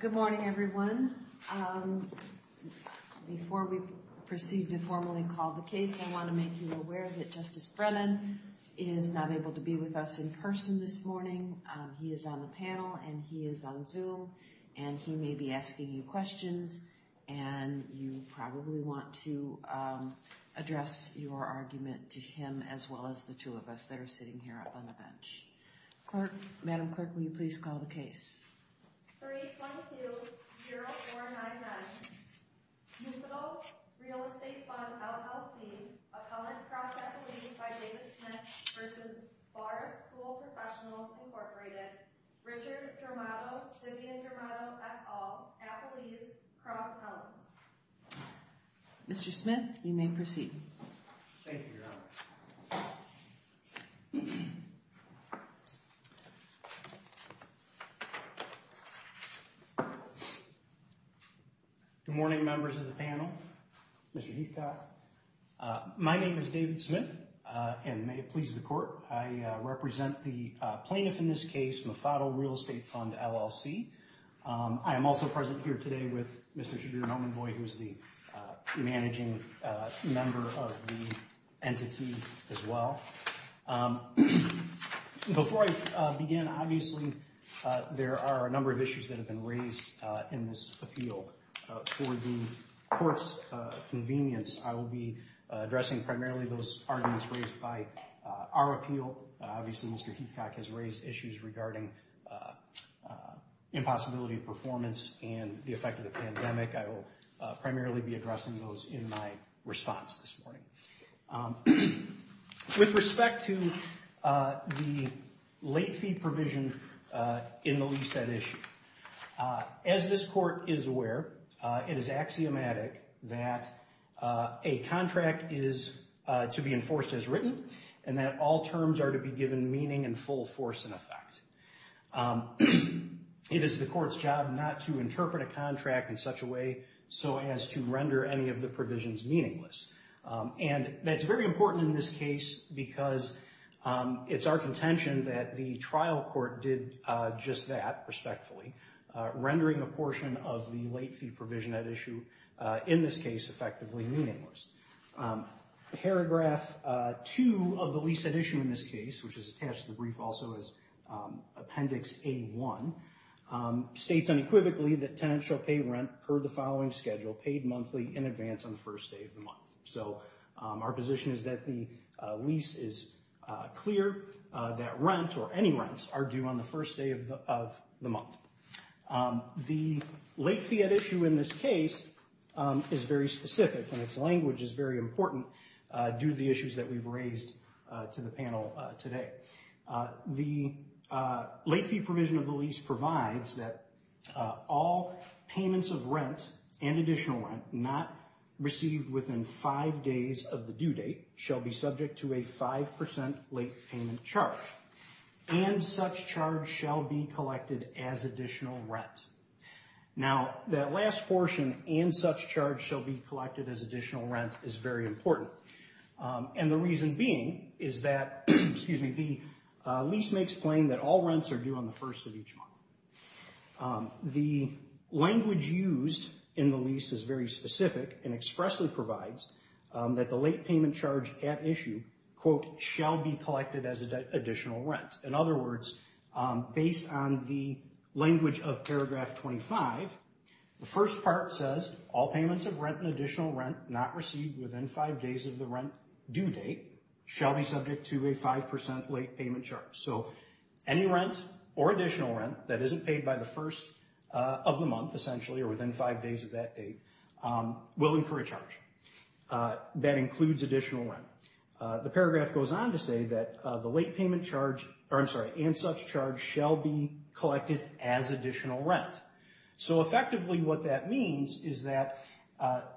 Good morning, everyone. Before we proceed to formally call the case, I want to make you aware that Justice Brennan is not able to be with us in person this morning. He is on the panel, and he is on Zoom, and he may be asking you questions, and you probably want to address your argument to him as well as the two of us that are sitting here up on the bench. Madam Clerk, will you please call the case? 322-0499, Mufaddal Real Estate Fund, LLC, a company cross-appellees by David Smith v. Vara School Professionals, Inc., Richard Dramato, Vivian Dramato, et al., appellees, cross-appellants. Mr. Smith, you may proceed. Thank you, Your Honor. Good morning, members of the panel, Mr. Heathcock. My name is David Smith, and may it please the Court, I represent the plaintiff in this case, Mufaddal Real Estate Fund, LLC. I am also present here today with Mr. Shadir Nomanboy, who is the managing member of the entity as well. Before I begin, obviously, there are a number of issues that have been raised in this appeal. For the Court's convenience, I will be addressing primarily those arguments raised by our appeal. Obviously, Mr. Heathcock has raised issues regarding impossibility of performance and the effect of the pandemic. I will primarily be addressing those in my response this morning. With respect to the late fee provision in the lease-set issue, as this Court is aware, it is axiomatic that a contract is to be enforced as written, and that all terms are to be given meaning and full force and effect. It is the Court's job not to interpret a contract in such a way so as to render any of the provisions meaningless. And that's very important in this case because it's our contention that the trial court did just that, respectfully, rendering a portion of the late fee provision at issue, in this case, effectively meaningless. Paragraph 2 of the lease-set issue in this case, which is attached to the brief also as Appendix A-1, states unequivocally that tenants shall pay rent per the following schedule, paid monthly in advance on the first day of the month. So our position is that the lease is clear, that rent or any rents are due on the first day of the month. The late fee at issue in this case is very specific, and its language is very important due to the issues that we've raised to the panel today. The late fee provision of the lease provides that all payments of rent and additional rent not received within five days of the due date shall be subject to a 5% late payment charge. And such charge shall be collected as additional rent. Now, that last portion, and such charge shall be collected as additional rent, is very important. And the reason being is that the lease makes plain that all rents are due on the first of each month. The language used in the lease is very specific and expressly provides that the late payment charge at issue, quote, shall be collected as additional rent. In other words, based on the language of paragraph 25, the first part says all payments of rent and additional rent not received within five days of the rent due date shall be subject to a 5% late payment charge. So any rent or additional rent that isn't paid by the first of the month, essentially, or within five days of that date, will incur a charge. That includes additional rent. The paragraph goes on to say that the late payment charge, or I'm sorry, and such charge shall be collected as additional rent. So effectively what that means is that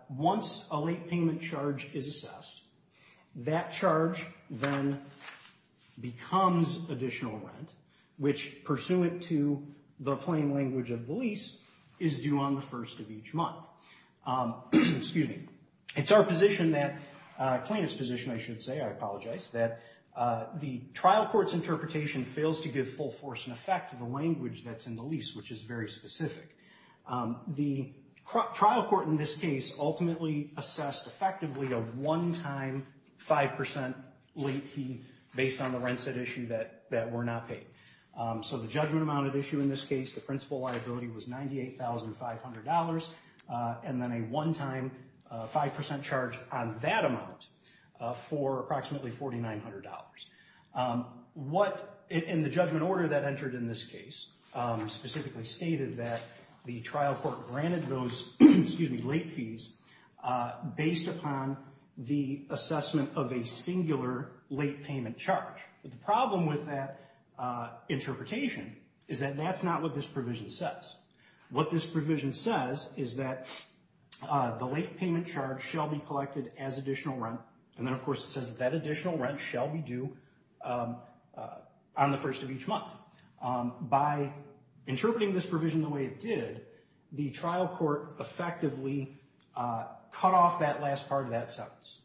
once a late payment charge is assessed, that charge then becomes additional rent, which, pursuant to the plain language of the lease, is due on the first of each month. Excuse me. It's our position that, plaintiff's position I should say, I apologize, that the trial court's interpretation fails to give full force and effect to the language that's in the lease, which is very specific. The trial court in this case ultimately assessed effectively a one-time 5% late fee based on the rent set issue that were not paid. So the judgment amount of issue in this case, the principal liability, was $98,500, and then a one-time 5% charge on that amount for approximately $4,900. What, in the judgment order that entered in this case, specifically stated that the trial court granted those, excuse me, late fees based upon the assessment of a singular late payment charge. But the problem with that interpretation is that that's not what this provision says. What this provision says is that the late payment charge shall be collected as additional rent, and then of course it says that that additional rent shall be due on the first of each month. By interpreting this provision the way it did, the trial court effectively cut off that last part of that sentence.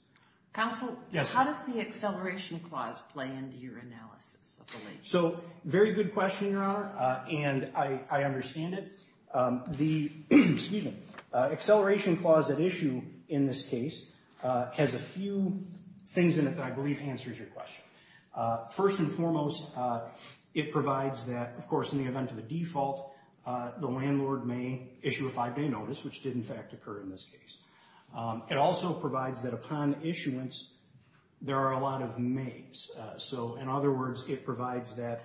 Counsel, how does the acceleration clause play into your analysis of the lease? So, very good question, Your Honor, and I understand it. The acceleration clause at issue in this case has a few things in it that I believe answers your question. First and foremost, it provides that, of course, in the event of a default, the landlord may issue a five-day notice, which did in fact occur in this case. It also provides that upon issuance, there are a lot of mays. So, in other words, it provides that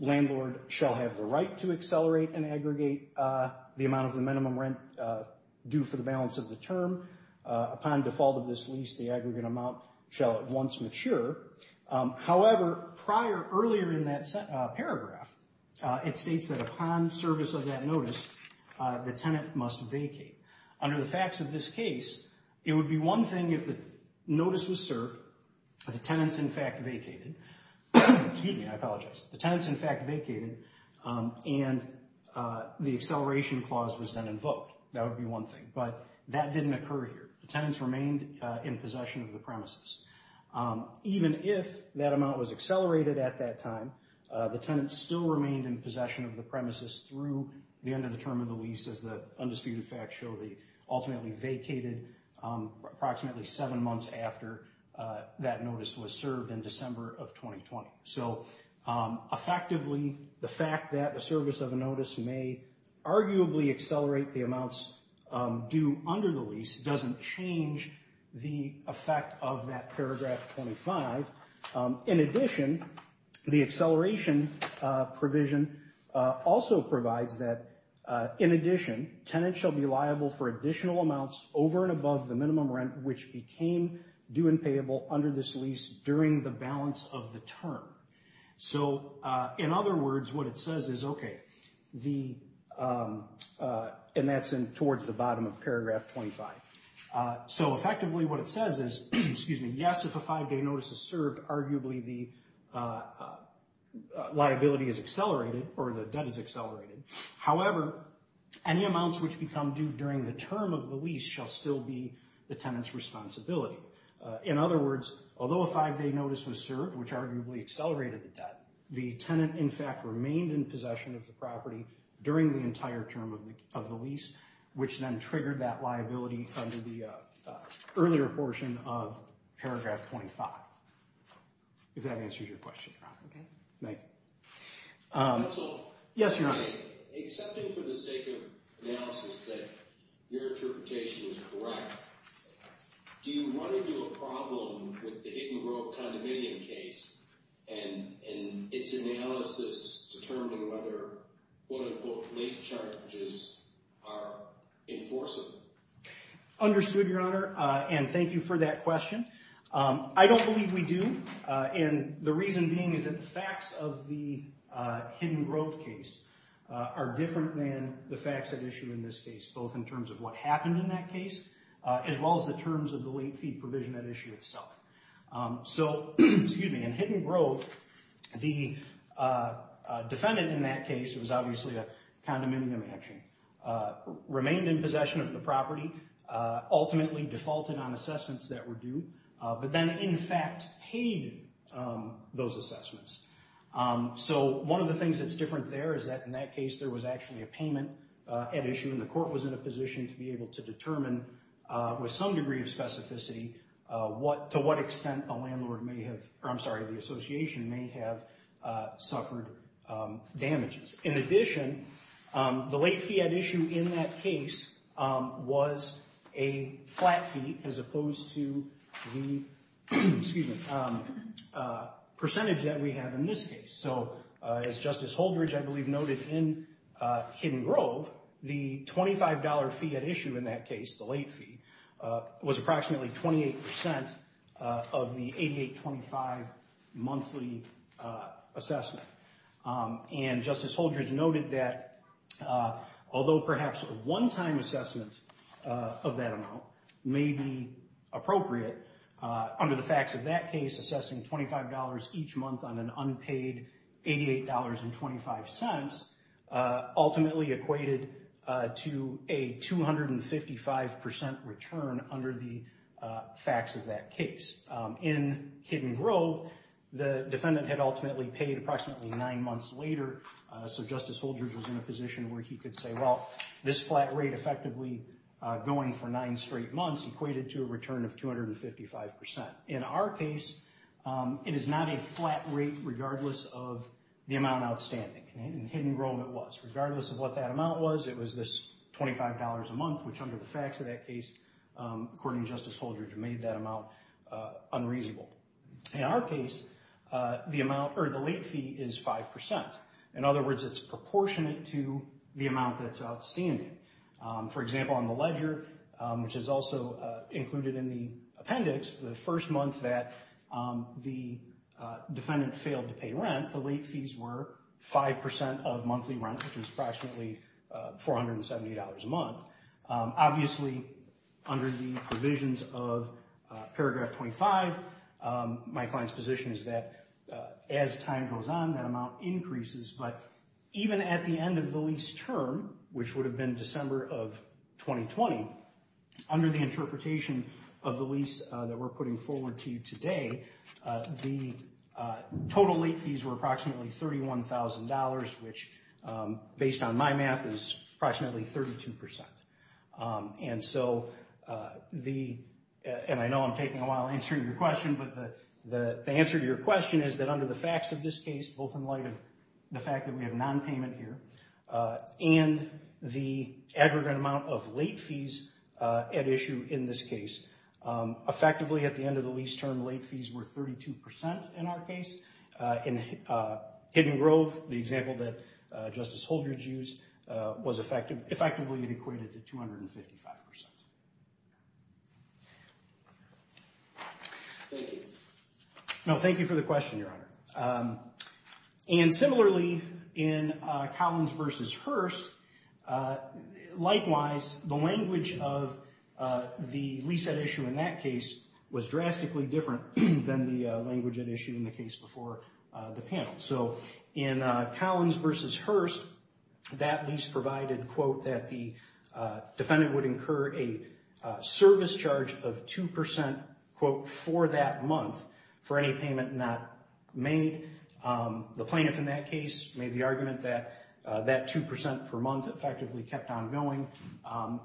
landlord shall have the right to accelerate and aggregate the amount of the minimum rent due for the balance of the term. Upon default of this lease, the aggregate amount shall at once mature. However, prior, earlier in that paragraph, it states that upon service of that notice, the tenant must vacate. Under the facts of this case, it would be one thing if the notice was served, the tenants in fact vacated. Excuse me, I apologize. The tenants in fact vacated, and the acceleration clause was then invoked. That would be one thing, but that didn't occur here. The tenants remained in possession of the premises. Even if that amount was accelerated at that time, the tenants still remained in possession of the premises through the end of the term of the lease, as the undisputed facts show they ultimately vacated approximately seven months after that notice was served in December of 2020. So, effectively, the fact that the service of a notice may arguably accelerate the amounts due under the lease doesn't change the effect of that paragraph 25. In addition, the acceleration provision also provides that, in addition, tenants shall be liable for additional amounts over and above the minimum rent, which became due and payable under this lease during the balance of the term. So, in other words, what it says is, okay, the, and that's towards the bottom of paragraph 25. So, effectively, what it says is, excuse me, yes, if a five-day notice is served, arguably the liability is accelerated, or the debt is accelerated. However, any amounts which become due during the term of the lease shall still be the tenant's responsibility. In other words, although a five-day notice was served, which arguably accelerated the debt, the tenant, in fact, remained in possession of the property during the entire term of the lease, which then triggered that liability under the earlier portion of paragraph 25, if that answers your question. Okay. Thank you. Counsel? Yes, Your Honor. Excepting for the sake of analysis that your interpretation is correct, do you want to do a problem with the Hidden Grove condominium case and its analysis determining whether, quote, unquote, late charges are enforceable? Understood, Your Honor, and thank you for that question. I don't believe we do, and the reason being is that the facts of the Hidden Grove case are different than the facts at issue in this case, both in terms of what happened in that case as well as the terms of the late fee provision at issue itself. So, excuse me, in Hidden Grove, the defendant in that case, it was obviously a condominium action, remained in possession of the property, ultimately defaulted on assessments that were due, but then, in fact, paid those assessments. So one of the things that's different there is that in that case, there was actually a payment at issue, and the court was in a position to be able to determine with some degree of specificity to what extent a landlord may have, or I'm sorry, the association may have suffered damages. In addition, the late fee at issue in that case was a flat fee as opposed to the percentage that we have in this case. So as Justice Holdridge, I believe, noted in Hidden Grove, the $25 fee at issue in that case, the late fee, was approximately 28% of the $88.25 monthly assessment. And Justice Holdridge noted that although perhaps a one-time assessment of that amount may be appropriate, under the facts of that case, assessing $25 each month on an unpaid $88.25 ultimately equated to a 255% return under the facts of that case. In Hidden Grove, the defendant had ultimately paid approximately nine months later, so Justice Holdridge was in a position where he could say, well, this flat rate effectively going for nine straight months equated to a return of 255%. In our case, it is not a flat rate regardless of the amount outstanding. In Hidden Grove, it was. Regardless of what that amount was, it was this $25 a month, which under the facts of that case, according to Justice Holdridge, made that amount unreasonable. In our case, the late fee is 5%. In other words, it's proportionate to the amount that's outstanding. For example, on the ledger, which is also included in the appendix, the first month that the defendant failed to pay rent, the late fees were 5% of monthly rent, which is approximately $470 a month. Obviously, under the provisions of paragraph 25, my client's position is that as time goes on, that amount increases. But even at the end of the lease term, which would have been December of 2020, under the interpretation of the lease that we're putting forward to you today, the total late fees were approximately $31,000, which based on my math is approximately 32%. I know I'm taking a while answering your question, but the answer to your question is that under the facts of this case, both in light of the fact that we have nonpayment here and the aggregate amount of late fees at issue in this case, effectively at the end of the lease term, late fees were 32% in our case. In Hidden Grove, the example that Justice Holdred used, was effectively equated to 255%. Thank you for the question, Your Honor. Similarly, in Collins v. Hurst, likewise, the language of the lease at issue in that case was drastically different than the language at issue in the case before the panel. In Collins v. Hurst, that lease provided that the defendant would incur a service charge of 2% for that month for any payment not made. The plaintiff in that case made the argument that that 2% per month effectively kept on going,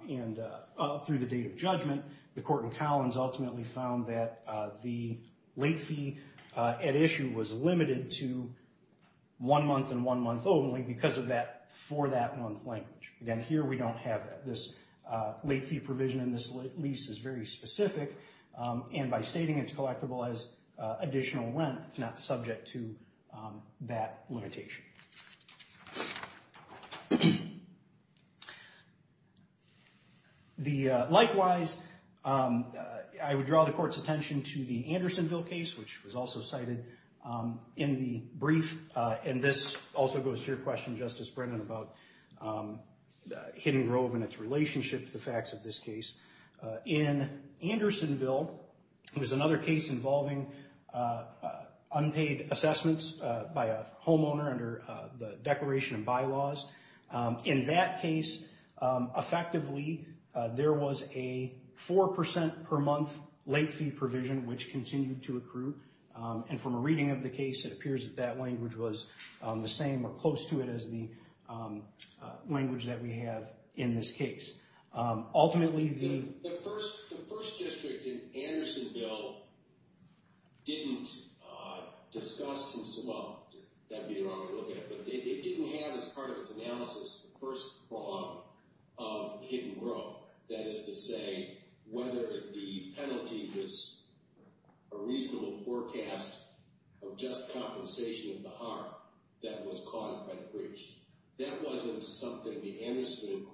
and up through the date of judgment, the court in Collins ultimately found that the late fee at issue was limited to one month and one month only because of that for-that-month language. Again, here we don't have that. This late fee provision in this lease is very specific, and by stating it's collectible as additional rent, it's not subject to that limitation. Likewise, I would draw the court's attention to the Andersonville case, which was also cited in the brief, and this also goes to your question, Justice Brennan, about Hidden Grove and its relationship to the facts of this case. In Andersonville, it was another case involving unpaid assessments by a homeowner under the Declaration of Bylaws. In that case, effectively, there was a 4% per month late fee provision which continued to accrue, and from a reading of the case, it appears that that language was the same or close to it as the language that we have in this case. Ultimately, the- The first district in Andersonville didn't discuss in some-well, that'd be the wrong way to look at it, but it didn't have as part of its analysis the first fraud of Hidden Grove. That is to say, whether the penalty was a reasonable forecast of just compensation of the harm that was caused by the breach. That wasn't something the Andersonville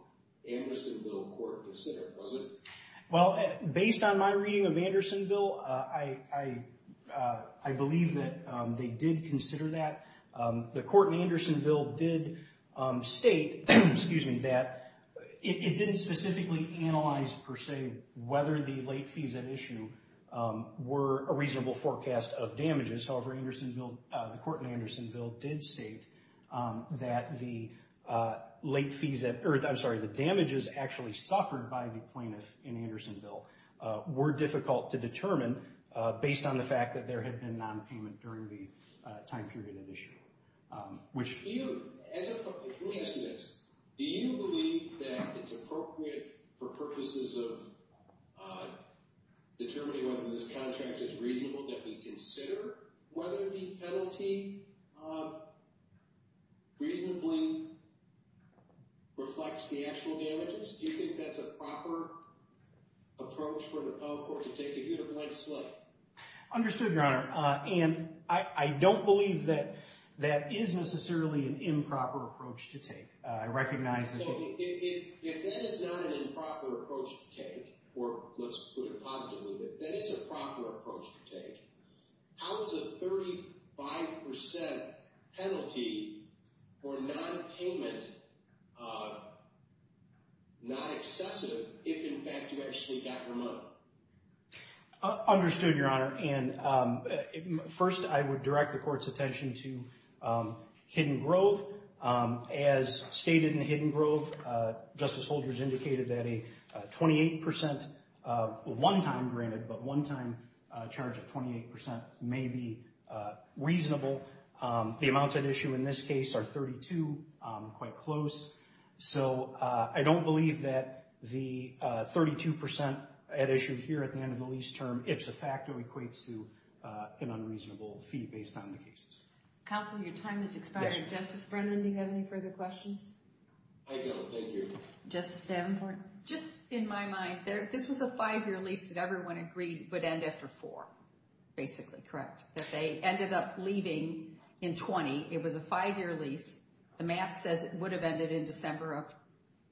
court considered, was it? Well, based on my reading of Andersonville, I believe that they did consider that. The court in Andersonville did state-excuse me-that it didn't specifically analyze, per se, whether the late fees at issue were a reasonable forecast of damages. However, Andersonville-the court in Andersonville did state that the late fees at-I'm sorry, the damages actually suffered by the plaintiff in Andersonville were difficult to determine based on the fact that there had been non-payment during the time period at issue, which- As a-let me ask you this. Do you believe that it's appropriate for purposes of determining whether this contract is reasonable that we consider whether the penalty reasonably reflects the actual damages? Do you think that's a proper approach for the public court to take if you had a blank slate? Understood, Your Honor. And I don't believe that that is necessarily an improper approach to take. I recognize that- If that is not an improper approach to take, or let's put it positively, that it's a proper approach to take, how is a 35% penalty for non-payment not excessive if, in fact, you actually got your money? Understood, Your Honor. And first, I would direct the court's attention to Hidden Grove. As stated in Hidden Grove, Justice Holder has indicated that a 28% one-time granted, but one-time charge of 28% may be reasonable. The amounts at issue in this case are 32, quite close. So I don't believe that the 32% at issue here at the end of the lease term, it's a factor that equates to an unreasonable fee based on the cases. Counsel, your time has expired. Justice Brennan, do you have any further questions? I don't. Thank you. Justice Davenport? Just in my mind, this was a five-year lease that everyone agreed would end after four, basically, correct? That they ended up leaving in 20. It was a five-year lease. The math says it would have ended in December of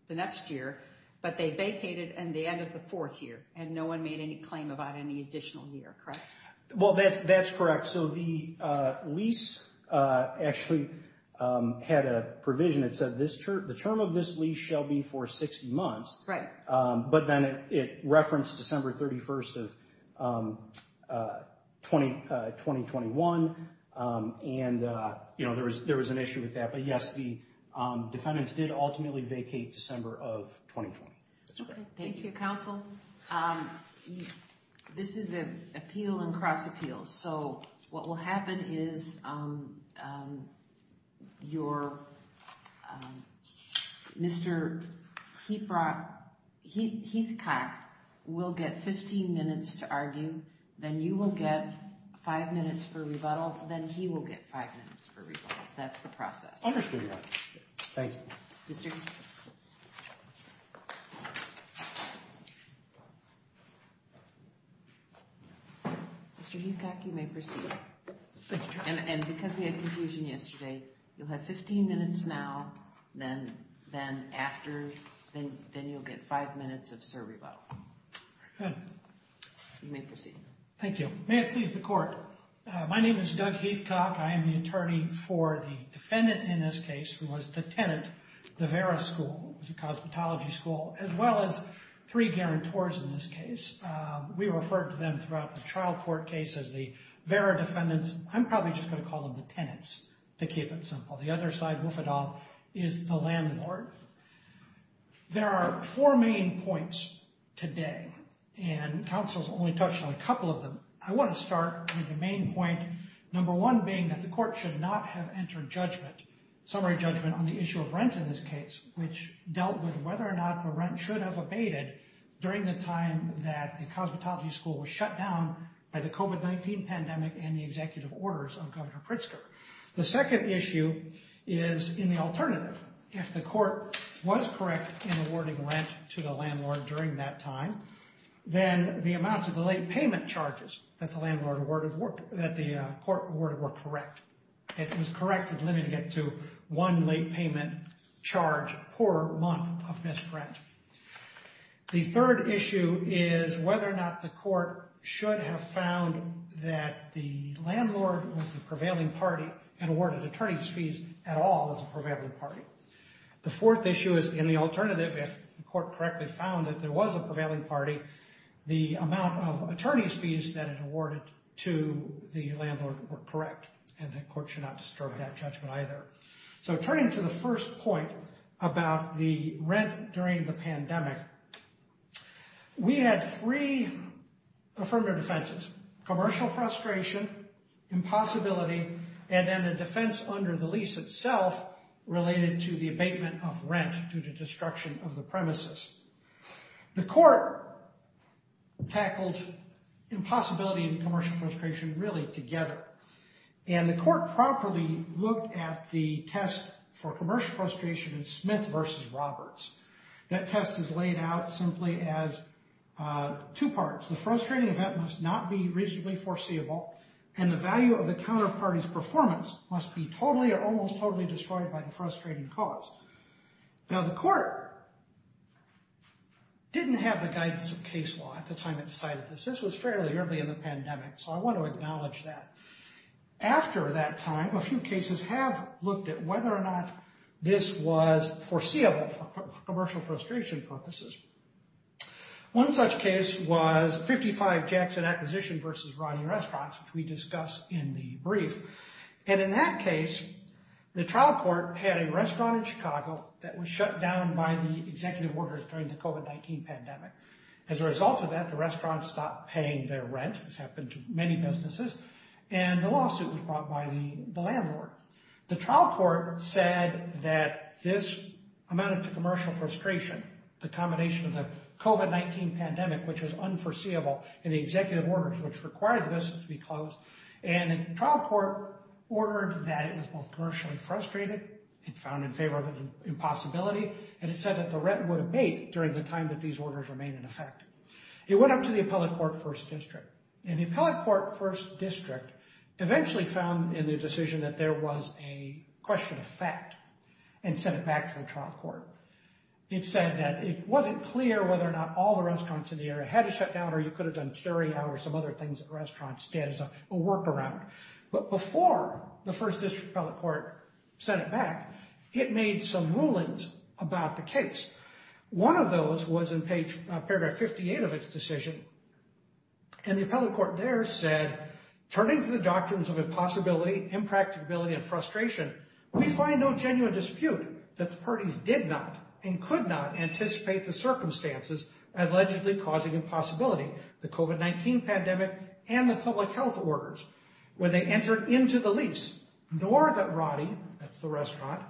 the next year, but they vacated and they ended the fourth year, and no one made any claim about any additional year, correct? Well, that's correct. So the lease actually had a provision that said the term of this lease shall be for 60 months, but then it referenced December 31st of 2021, and there was an issue with that. But, yes, the defendants did ultimately vacate December of 2020. Thank you, Counsel. Counsel, this is an appeal and cross-appeal. So what will happen is your Mr. Heathcock will get 15 minutes to argue, then you will get five minutes for rebuttal, then he will get five minutes for rebuttal. That's the process. Understood, Your Honor. Thank you. Thank you. Mr. Heathcock, you may proceed. And because we had confusion yesterday, you'll have 15 minutes now, then after, then you'll get five minutes of serve rebuttal. Very good. You may proceed. Thank you. May it please the Court. My name is Doug Heathcock. I am the attorney for the defendant in this case, who was the tenant, the Vera School. It was a cosmetology school, as well as three guarantors in this case. We referred to them throughout the trial court case as the Vera defendants. I'm probably just going to call them the tenants, to keep it simple. The other side wolf it all is the landlord. There are four main points today, and Counsel's only touched on a couple of them. I want to start with the main point, number one being that the court should not have entered judgment, summary judgment on the issue of rent in this case, which dealt with whether or not the rent should have abated during the time that the cosmetology school was shut down by the COVID-19 pandemic and the executive orders of Governor Pritzker. The second issue is in the alternative. If the court was correct in awarding rent to the landlord during that time, then the amounts of the late payment charges that the landlord awarded, that the court awarded were correct. It was correct in limiting it to one late payment charge per month of missed rent. The third issue is whether or not the court should have found that the landlord was the prevailing party and awarded attorney's fees at all as a prevailing party. The fourth issue is in the alternative. If the court correctly found that there was a prevailing party, the amount of attorney's fees that it awarded to the landlord were correct, and the court should not disturb that judgment either. So turning to the first point about the rent during the pandemic, we had three affirmative defenses, commercial frustration, impossibility, and then the defense under the lease itself related to the abatement of rent due to destruction of the premises. The court tackled impossibility and commercial frustration really together. And the court properly looked at the test for commercial frustration in Smith v. Roberts. That test is laid out simply as two parts. The frustrating event must not be reasonably foreseeable, and the value of the counterparty's performance must be totally or almost totally destroyed by the frustrating cause. Now, the court didn't have the guidance of case law at the time it decided this. This was fairly early in the pandemic, so I want to acknowledge that. After that time, a few cases have looked at whether or not this was foreseeable for commercial frustration purposes. One such case was 55 Jackson Acquisition v. Ronnie Restaurants, which we discuss in the brief. And in that case, the trial court had a restaurant in Chicago that was shut down by the executive orders during the COVID-19 pandemic. As a result of that, the restaurant stopped paying their rent, as happened to many businesses, and the lawsuit was brought by the landlord. The trial court said that this amounted to commercial frustration, the combination of the COVID-19 pandemic, which was unforeseeable in the executive orders, which required the business to be closed. And the trial court ordered that it was both commercially frustrated and found in favor of an impossibility, and it said that the rent would abate during the time that these orders remain in effect. It went up to the appellate court first district, and the appellate court first district eventually found in the decision that there was a question of fact and sent it back to the trial court. It said that it wasn't clear whether or not all the restaurants in the area had to shut down or you could have done carry out or some other things that restaurants did as a workaround. But before the first district appellate court sent it back, it made some rulings about the case. One of those was in paragraph 58 of its decision, and the appellate court there said, turning to the doctrines of impossibility, impracticability, and frustration, we find no genuine dispute that the parties did not and could not anticipate the circumstances allegedly causing impossibility. The COVID-19 pandemic and the public health orders, when they entered into the lease, nor that Roddy, that's the restaurant,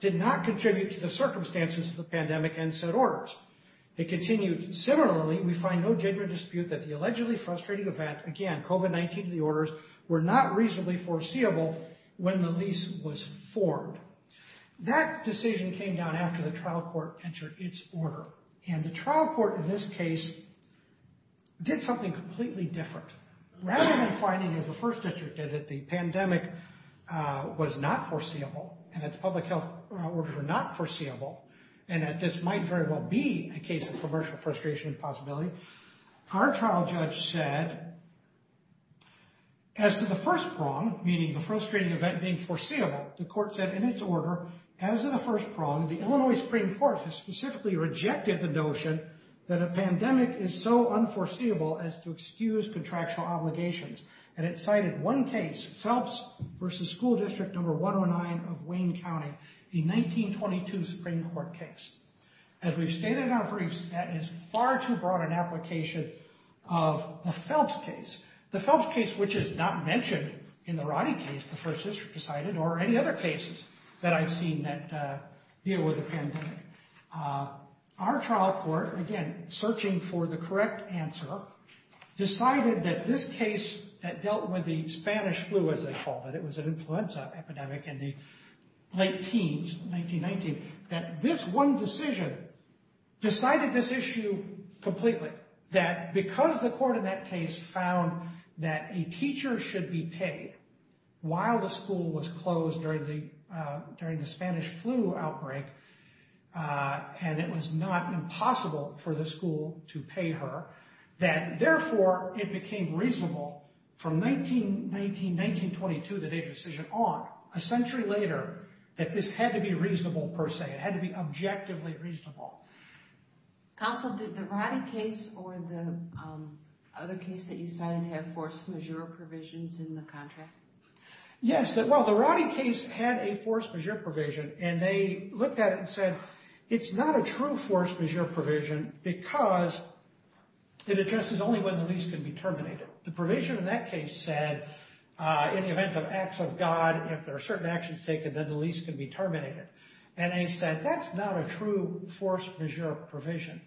did not contribute to the circumstances of the pandemic and said orders. They continued, similarly, we find no genuine dispute that the allegedly frustrating event, again, COVID-19, the orders were not reasonably foreseeable when the lease was formed. That decision came down after the trial court entered its order, and the trial court in this case did something completely different. Rather than finding, as the first district did, that the pandemic was not foreseeable and that the public health orders were not foreseeable and that this might very well be a case of commercial frustration and possibility, our trial judge said, as to the first prong, meaning the frustrating event being foreseeable, the court said, in its order, as in the first prong, the Illinois Supreme Court has specifically rejected the notion that a pandemic is so unforeseeable as to excuse contractual obligations. And it cited one case, Phelps v. School District No. 109 of Wayne County, a 1922 Supreme Court case. As we've stated in our briefs, that is far too broad an application of a Phelps case. The Phelps case, which is not mentioned in the Roddy case, the first district decided, or any other cases that I've seen that deal with the pandemic. Our trial court, again, searching for the correct answer, decided that this case that dealt with the Spanish flu, as they called it, it was an influenza epidemic in the late teens, 1919, that this one decision decided this issue completely. That because the court in that case found that a teacher should be paid while the school was closed during the Spanish flu outbreak, and it was not impossible for the school to pay her, that therefore it became reasonable from 1919, 1922, the day of the decision on, a century later, that this had to be reasonable per se. It had to be objectively reasonable. Counsel, did the Roddy case or the other case that you cited have force majeure provisions in the contract? Yes, well, the Roddy case had a force majeure provision, and they looked at it and said, it's not a true force majeure provision because it addresses only when the lease can be terminated. The provision in that case said, in the event of acts of God, if there are certain actions taken, then the lease can be terminated. And they said, that's not a true force majeure provision.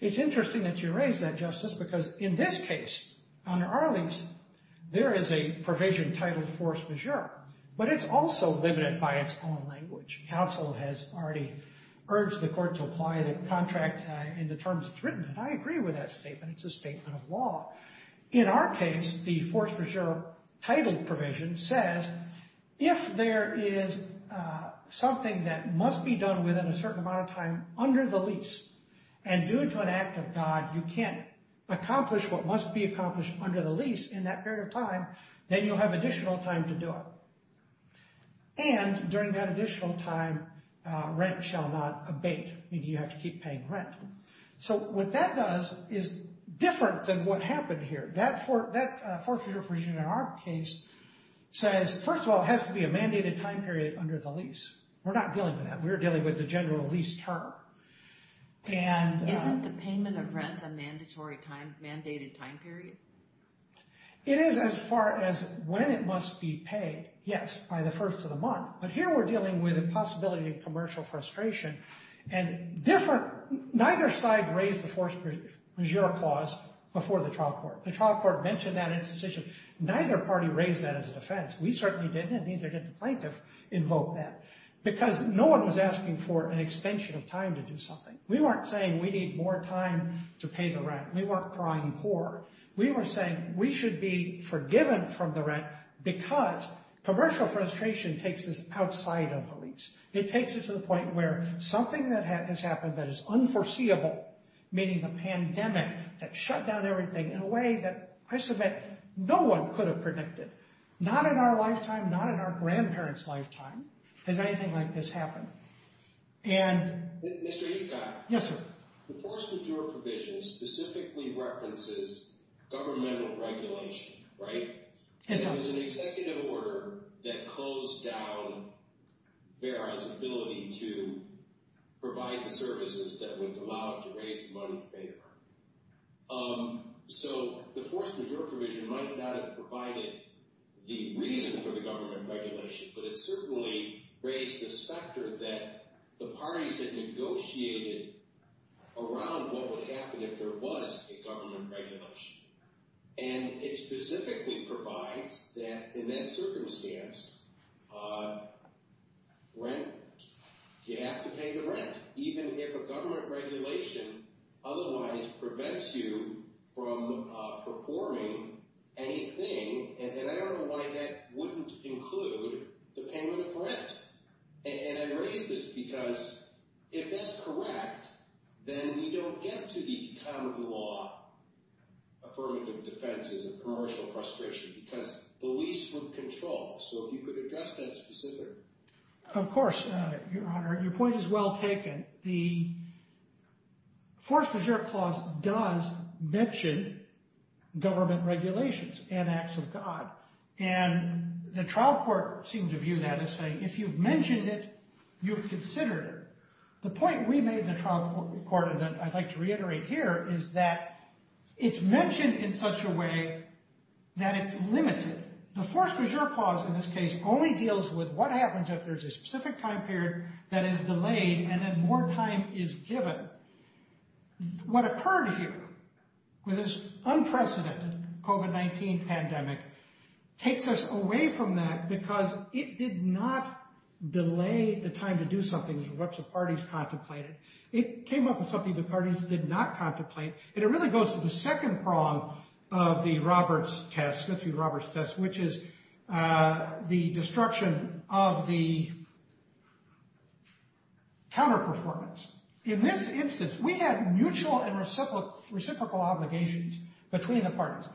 It's interesting that you raised that, Justice, because in this case, under our lease, there is a provision titled force majeure, but it's also limited by its own language. Counsel has already urged the court to apply the contract in the terms it's written, and I agree with that statement. It's a statement of law. In our case, the force majeure title provision says, if there is something that must be done within a certain amount of time under the lease, and due to an act of God, you can't accomplish what must be accomplished under the lease in that period of time, then you'll have additional time to do it. And during that additional time, rent shall not abate, meaning you have to keep paying rent. So what that does is different than what happened here. That force majeure provision in our case says, first of all, it has to be a mandated time period under the lease. We're not dealing with that. We're dealing with the general lease term. Isn't the payment of rent a mandated time period? It is as far as when it must be paid, yes, by the first of the month. But here we're dealing with a possibility of commercial frustration, and neither side raised the force majeure clause before the trial court. The trial court mentioned that in its decision. Neither party raised that as a defense. We certainly didn't, and neither did the plaintiff invoke that, because no one was asking for an extension of time to do something. We weren't saying we need more time to pay the rent. We weren't crying poor. We were saying we should be forgiven from the rent because commercial frustration takes us outside of the lease. It takes it to the point where something that has happened that is unforeseeable, meaning the pandemic that shut down everything in a way that I submit no one could have predicted. Not in our lifetime, not in our grandparents' lifetime has anything like this happened. Mr. Ecott. Yes, sir. The force majeure provision specifically references governmental regulation, right? And that was an executive order that closed down BARR's ability to provide the services that would allow it to raise the money to pay rent. So the force majeure provision might not have provided the reason for the government regulation, but it certainly raised the specter that the parties had negotiated around what would happen if there was a government regulation. And it specifically provides that in that circumstance, right? You have to pay the rent, even if a government regulation otherwise prevents you from performing anything. And I don't know why that wouldn't include the payment of rent. And I raise this because if that's correct, then we don't get to the common law affirmative defenses of commercial frustration because the lease would control. So if you could address that specifically. Of course, Your Honor. Your point is well taken. The force majeure clause does mention government regulations and acts of God. And the trial court seemed to view that as saying, if you've mentioned it, you've considered it. The point we made in the trial court, and I'd like to reiterate here, is that it's mentioned in such a way that it's limited. The force majeure clause in this case only deals with what happens if there's a specific time period that is delayed and then more time is given. What occurred here with this unprecedented COVID-19 pandemic takes us away from that because it did not delay the time to do something as much as the parties contemplated. It came up with something the parties did not contemplate. And it really goes to the second prong of the Roberts test, Smith v. Roberts test, which is the destruction of the counterperformance. In this instance, we had mutual and reciprocal obligations between the parties.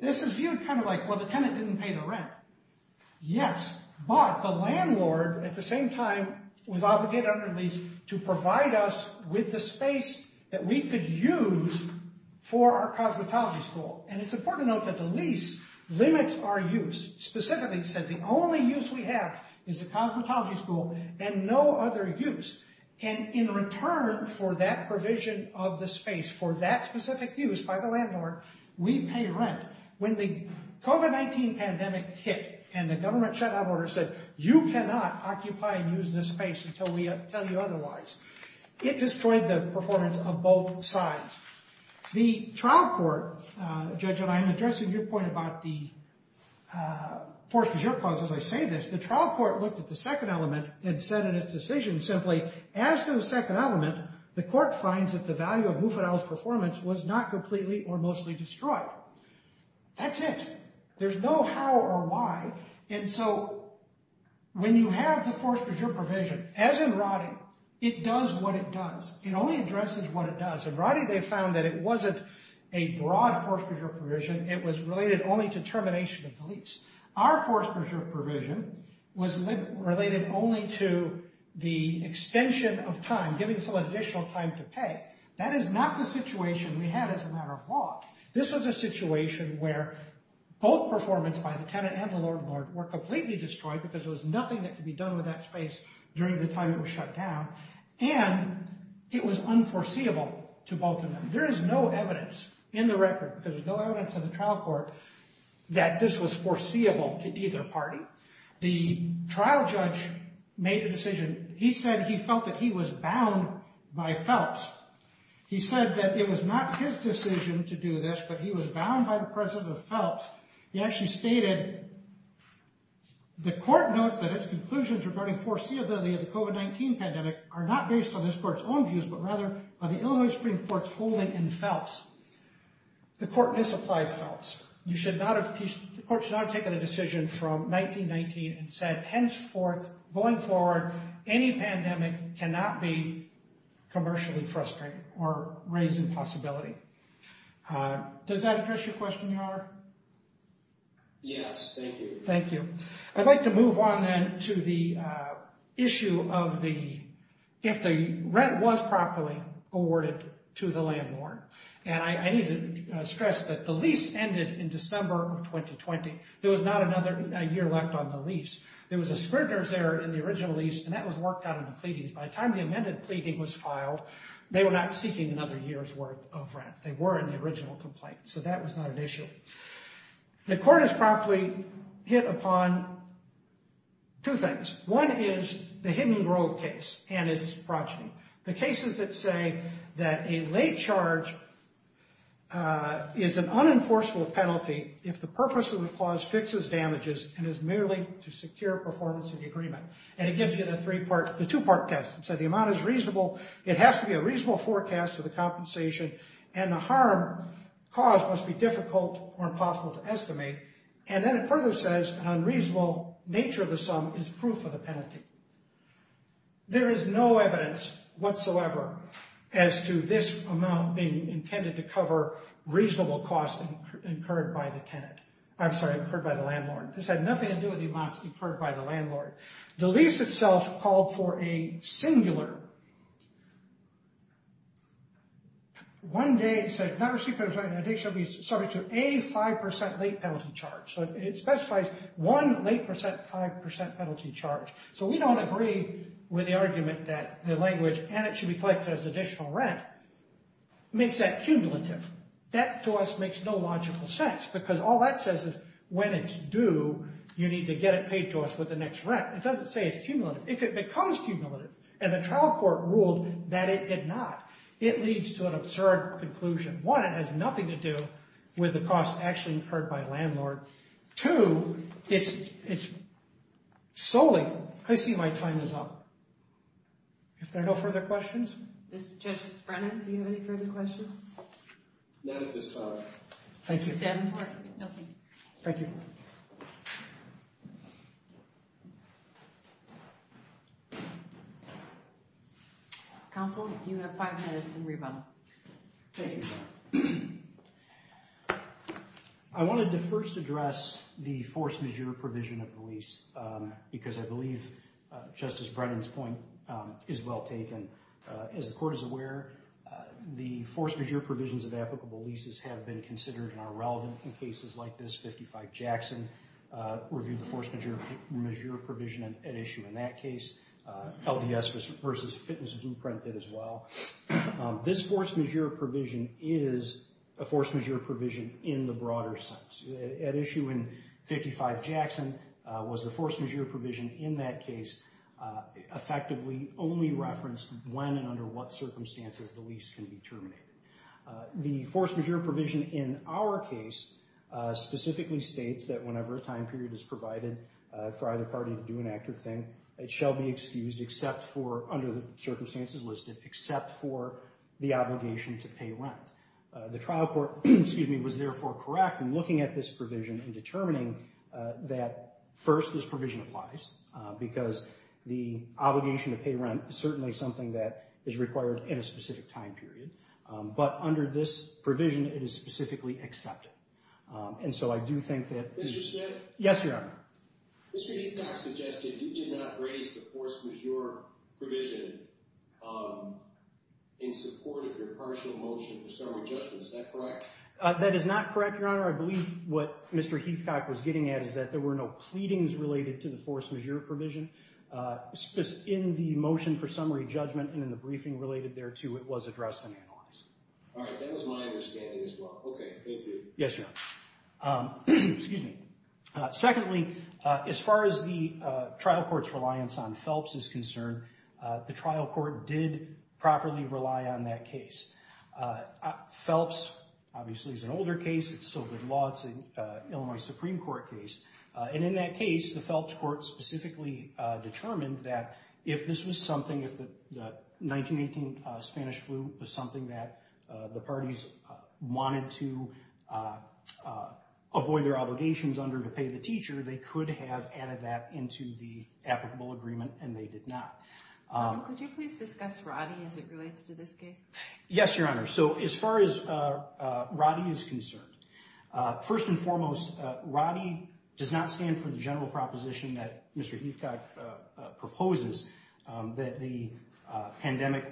This is viewed kind of like, well, the tenant didn't pay the rent. Yes, but the landlord at the same time was obligated under the lease to provide us with the space that we could use for our cosmetology school. And it's important to note that the lease limits our use. Specifically, it says the only use we have is the cosmetology school and no other use. And in return for that provision of the space, for that specific use by the landlord, we pay rent. When the COVID-19 pandemic hit and the government shut out orders that you cannot occupy and use this space until we tell you otherwise, it destroyed the performance of both sides. The trial court, Judge Elian, addressing your point about the force de jure clause, as I say this, the trial court looked at the second element and said in its decision simply, as to the second element, the court finds that the value of Mufadal's performance was not completely or mostly destroyed. That's it. There's no how or why. And so when you have the force de jure provision, as in Roddy, it does what it does. It only addresses what it does. And Roddy, they found that it wasn't a broad force de jure provision. It was related only to termination of the lease. Our force de jure provision was related only to the extension of time, giving someone additional time to pay. That is not the situation we had as a matter of law. This was a situation where both performance by the tenant and the landlord were completely destroyed because there was nothing that could be done with that space during the time it was shut down. And it was unforeseeable to both of them. There is no evidence in the record, because there's no evidence in the trial court, that this was foreseeable to either party. The trial judge made a decision. He said he felt that he was bound by Phelps. He said that it was not his decision to do this, but he was bound by the president of Phelps. He actually stated, the court notes that its conclusions regarding foreseeability of the COVID-19 pandemic are not based on this court's own views, but rather on the Illinois Supreme Court's holding in Phelps. The court misapplied Phelps. The court should not have taken a decision from 1919 and said, henceforth, going forward, any pandemic cannot be commercially frustrating or raising possibility. Does that address your question, Your Honor? Yes, thank you. Thank you. I'd like to move on, then, to the issue of the, if the rent was properly awarded to the landlord. And I need to stress that the lease ended in December of 2020. There was not another year left on the lease. There was a scrutinous error in the original lease, and that was worked out in the pleadings. By the time the amended pleading was filed, they were not seeking another year's worth of rent. They were in the original complaint, so that was not an issue. The court has promptly hit upon two things. One is the Hidden Grove case and its progeny, the cases that say that a late charge is an unenforceable penalty if the purpose of the clause fixes damages and is merely to secure performance of the agreement. And it gives you the three-part, the two-part test. It says the amount is reasonable. It has to be a reasonable forecast for the compensation, and the harm caused must be difficult or impossible to estimate. And then it further says an unreasonable nature of the sum is proof of the penalty. There is no evidence whatsoever as to this amount being intended to cover reasonable costs incurred by the tenant. I'm sorry, incurred by the landlord. This had nothing to do with the amounts incurred by the landlord. The lease itself called for a singular. One day said, not receiving a day shall be subject to a 5% late penalty charge. So it specifies one late 5% penalty charge. So we don't agree with the argument that the language, and it should be collected as additional rent, makes that cumulative. That to us makes no logical sense, because all that says is when it's due, you need to get it paid to us with the next rent. It doesn't say it's cumulative. If it becomes cumulative, and the trial court ruled that it did not, it leads to an absurd conclusion. One, it has nothing to do with the costs actually incurred by the landlord. Two, it's solely, I see my time is up. If there are no further questions? Mr. Justice Brennan, do you have any further questions? None at this time. Thank you. Thank you. Counsel, you have five minutes in rebuttal. Thank you. I wanted to first address the force majeure provision of the lease, because I believe Justice Brennan's point is well taken. As the court is aware, the force majeure provisions of applicable leases have been considered and are relevant in cases like this. 55 Jackson reviewed the force majeure provision at issue in that case. LDS versus Fitness Blueprint did as well. This force majeure provision is a force majeure provision in the broader sense. At issue in 55 Jackson was the force majeure provision in that case effectively only referenced when and under what circumstances the lease can be terminated. The force majeure provision in our case specifically states that whenever a time period is provided for either party to do an act or thing, it shall be excused under the circumstances listed, except for the obligation to pay rent. The trial court was therefore correct in looking at this provision and determining that first this provision applies, because the obligation to pay rent is certainly something that is required in a specific time period. But under this provision, it is specifically accepted. And so I do think that— Mr. Smith? Yes, Your Honor. Mr. Heathcock suggested you did not raise the force majeure provision in support of your partial motion for summary judgment. Is that correct? That is not correct, Your Honor. I believe what Mr. Heathcock was getting at is that there were no pleadings related to the force majeure provision. In the motion for summary judgment and in the briefing related thereto, it was addressed and analyzed. All right, that was my understanding as well. Okay, thank you. Yes, Your Honor. Excuse me. Secondly, as far as the trial court's reliance on Phelps is concerned, the trial court did properly rely on that case. Phelps, obviously, is an older case. It's still good law. It's an Illinois Supreme Court case. And in that case, the Phelps court specifically determined that if this was something— the parties wanted to avoid their obligations under to pay the teacher, they could have added that into the applicable agreement, and they did not. Could you please discuss Roddy as it relates to this case? Yes, Your Honor. So as far as Roddy is concerned, first and foremost, Roddy does not stand for the general proposition that Mr. Heathcock proposes that the pandemic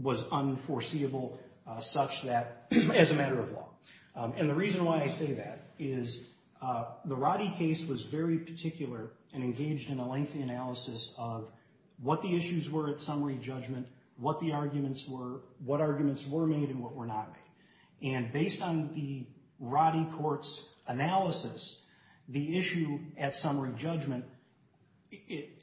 was unforeseeable such that—as a matter of law. And the reason why I say that is the Roddy case was very particular and engaged in a lengthy analysis of what the issues were at summary judgment, what the arguments were, what arguments were made, and what were not made. And based on the Roddy court's analysis, the issue at summary judgment,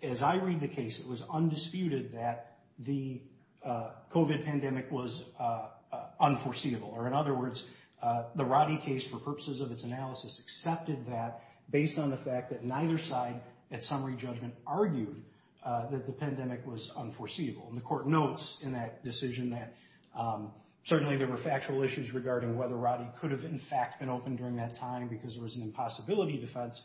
as I read the case, it was undisputed that the COVID pandemic was unforeseeable. Or in other words, the Roddy case, for purposes of its analysis, accepted that based on the fact that neither side at summary judgment argued that the pandemic was unforeseeable. And the court notes in that decision that certainly there were factual issues regarding whether Roddy could have, in fact, been open during that time because there was an impossibility defense.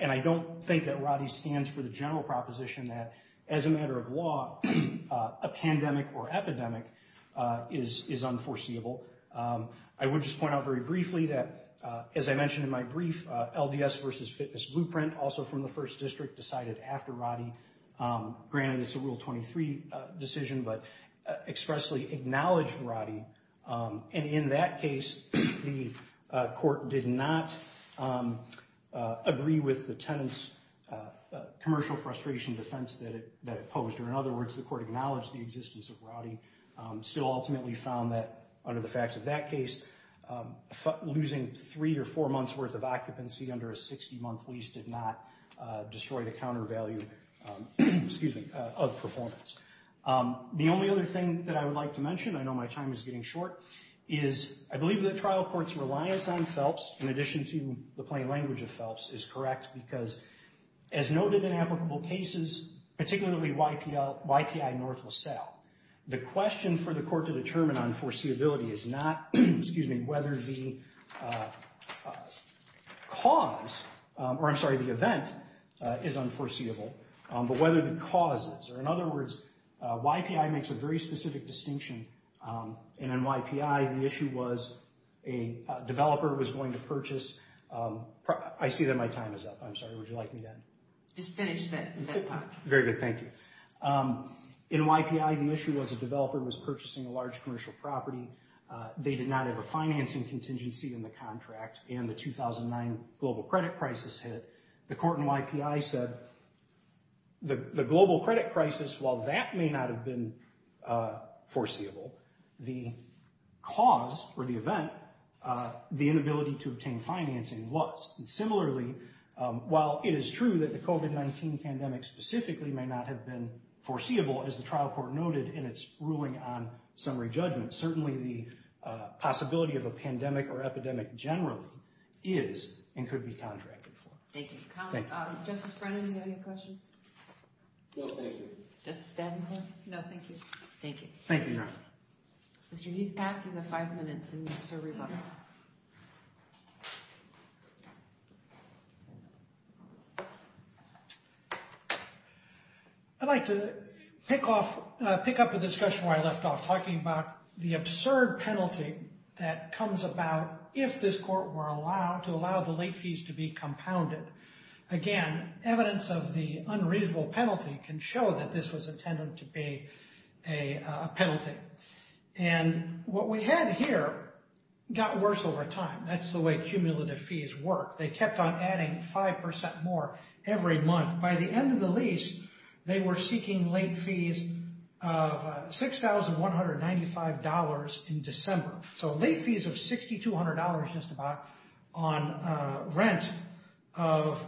And I don't think that Roddy stands for the general proposition that, as a matter of law, a pandemic or epidemic is unforeseeable. I would just point out very briefly that, as I mentioned in my brief, LDS versus Fitness Blueprint, also from the First District, decided after Roddy. Granted, it's a Rule 23 decision, but expressly acknowledged Roddy. And in that case, the court did not agree with the tenant's commercial frustration defense that it posed. In other words, the court acknowledged the existence of Roddy, still ultimately found that, under the facts of that case, losing three or four months worth of occupancy under a 60-month lease did not destroy the counter value of performance. The only other thing that I would like to mention, I know my time is getting short, is I believe that trial court's reliance on PHELPS, in addition to the plain language of PHELPS, is correct. Because, as noted in applicable cases, particularly YPI North LaSalle, the question for the court to determine unforeseeability is not whether the event is unforeseeable, but whether the cause is. In other words, YPI makes a very specific distinction. In YPI, the issue was a developer was going to purchase, I see that my time is up. I'm sorry, would you like me to end? Just finish that part. Very good, thank you. In YPI, the issue was a developer was purchasing a large commercial property. They did not have a financing contingency in the contract, and the 2009 global credit crisis hit. The court in YPI said the global credit crisis, while that may not have been foreseeable, the cause or the event, the inability to obtain financing was. And similarly, while it is true that the COVID-19 pandemic specifically may not have been foreseeable, as the trial court noted in its ruling on summary judgment, certainly the possibility of a pandemic or epidemic generally is and could be contracted for. Thank you. Justice Brennan, do you have any questions? No, thank you. Justice Davenport? No, thank you. Thank you. Thank you, Your Honor. Mr. Heath-Pack, you have five minutes in your survey book. Thank you. I'd like to pick up the discussion where I left off, talking about the absurd penalty that comes about if this court were allowed to allow the late fees to be compounded. Again, evidence of the unreasonable penalty can show that this was intended to be a penalty. And what we had here got worse over time. That's the way cumulative fees work. They kept on adding 5% more every month. By the end of the lease, they were seeking late fees of $6,195 in December, so late fees of $6,200 just about on rent of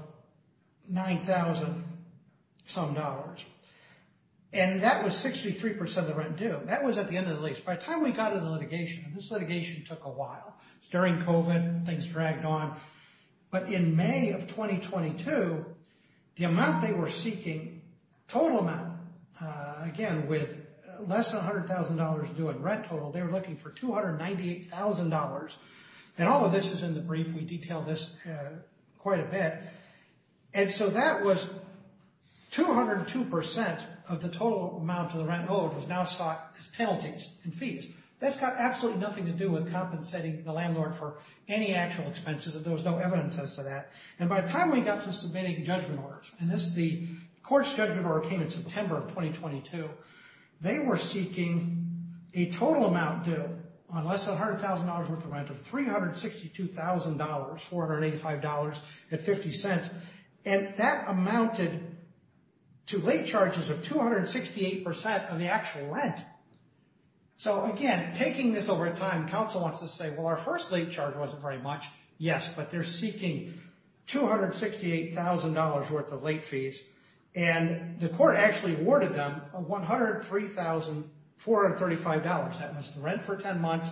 $9,000-some dollars. And that was 63% of the rent due. That was at the end of the lease. By the time we got to the litigation, and this litigation took a while, during COVID, things dragged on. But in May of 2022, the amount they were seeking, total amount, again, with less than $100,000 due in rent total, they were looking for $298,000. And all of this is in the brief. We detail this quite a bit. And so that was 202% of the total amount of the rent owed was now sought as penalties and fees. That's got absolutely nothing to do with compensating the landlord for any actual expenses. There was no evidence as to that. And by the time we got to submitting judgment orders, and the court's judgment order came in September of 2022, they were seeking a total amount due on less than $100,000 worth of rent of $362,000, $485.50. And that amounted to late charges of 268% of the actual rent. So, again, taking this over time, counsel wants to say, well, our first late charge wasn't very much. Yes, but they're seeking $268,000 worth of late fees. And the court actually awarded them $103,435. That was the rent for 10 months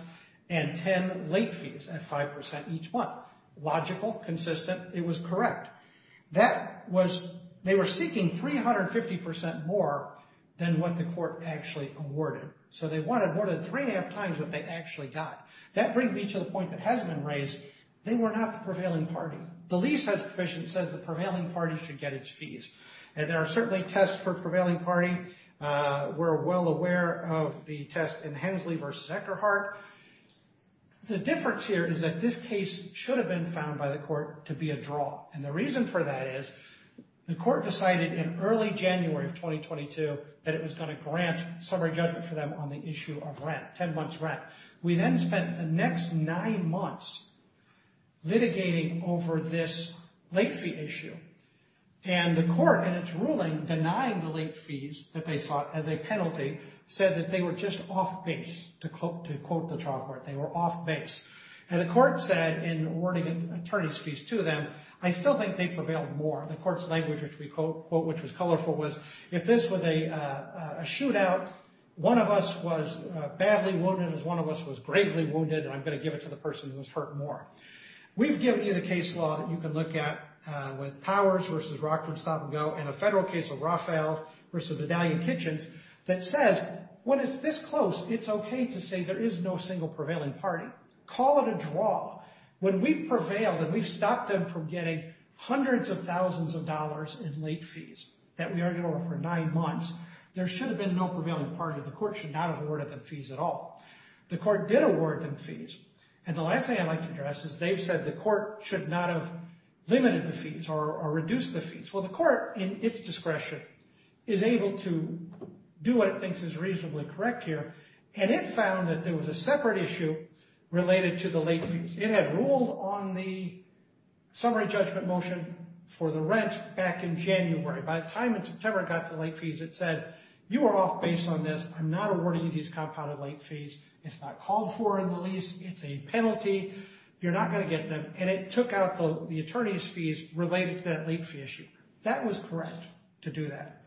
and 10 late fees at 5% each month. Logical, consistent, it was correct. They were seeking 350% more than what the court actually awarded. So they wanted more than three and a half times what they actually got. That brings me to the point that has been raised. They were not the prevailing party. The lease has sufficient says the prevailing party should get its fees. And there are certainly tests for prevailing party. We're well aware of the test in Hensley v. Eckerhart. The difference here is that this case should have been found by the court to be a draw. And the reason for that is the court decided in early January of 2022 that it was going to grant summary judgment for them on the issue of rent, 10 months rent. We then spent the next nine months litigating over this late fee issue. And the court in its ruling denying the late fees that they sought as a penalty said that they were just off base, to quote the trial court. They were off base. And the court said in awarding attorney's fees to them, I still think they prevailed more. And the court's language, which we quote, which was colorful, was if this was a shootout, one of us was badly wounded as one of us was gravely wounded. And I'm going to give it to the person who was hurt more. We've given you the case law that you can look at with Powers v. Rockford Stop and Go and a federal case of Raphael v. Medallion Kitchens that says when it's this close, it's okay to say there is no single prevailing party. Call it a draw. When we prevailed and we stopped them from getting hundreds of thousands of dollars in late fees that we argued over for nine months, there should have been no prevailing party. The court should not have awarded them fees at all. The court did award them fees. And the last thing I'd like to address is they've said the court should not have limited the fees or reduced the fees. Well, the court, in its discretion, is able to do what it thinks is reasonably correct here. And it found that there was a separate issue related to the late fees. It had ruled on the summary judgment motion for the rent back in January. By the time it got to late fees, it said you are off base on this. I'm not awarding you these compounded late fees. It's not called for in the lease. It's a penalty. You're not going to get them. And it took out the attorney's fees related to that late fee issue. That was correct to do that.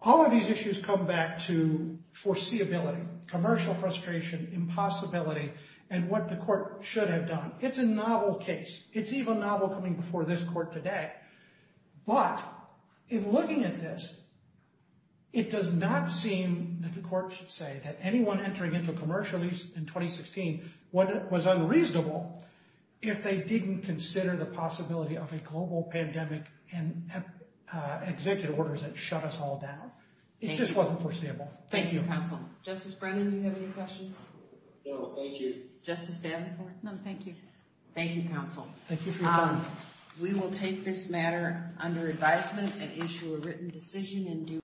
All of these issues come back to foreseeability, commercial frustration, impossibility, and what the court should have done. It's a novel case. It's even novel coming before this court today. But in looking at this, it does not seem that the court should say that anyone entering into a commercial lease in 2016 was unreasonable if they didn't consider the possibility of a global pandemic and executive orders that shut us all down. It just wasn't foreseeable. Thank you. Thank you, counsel. Justice Brennan, do you have any questions? No, thank you. Justice Davenport? Thank you, counsel. Thank you for your time. We will take this matter under advisement and issue a written decision in due course.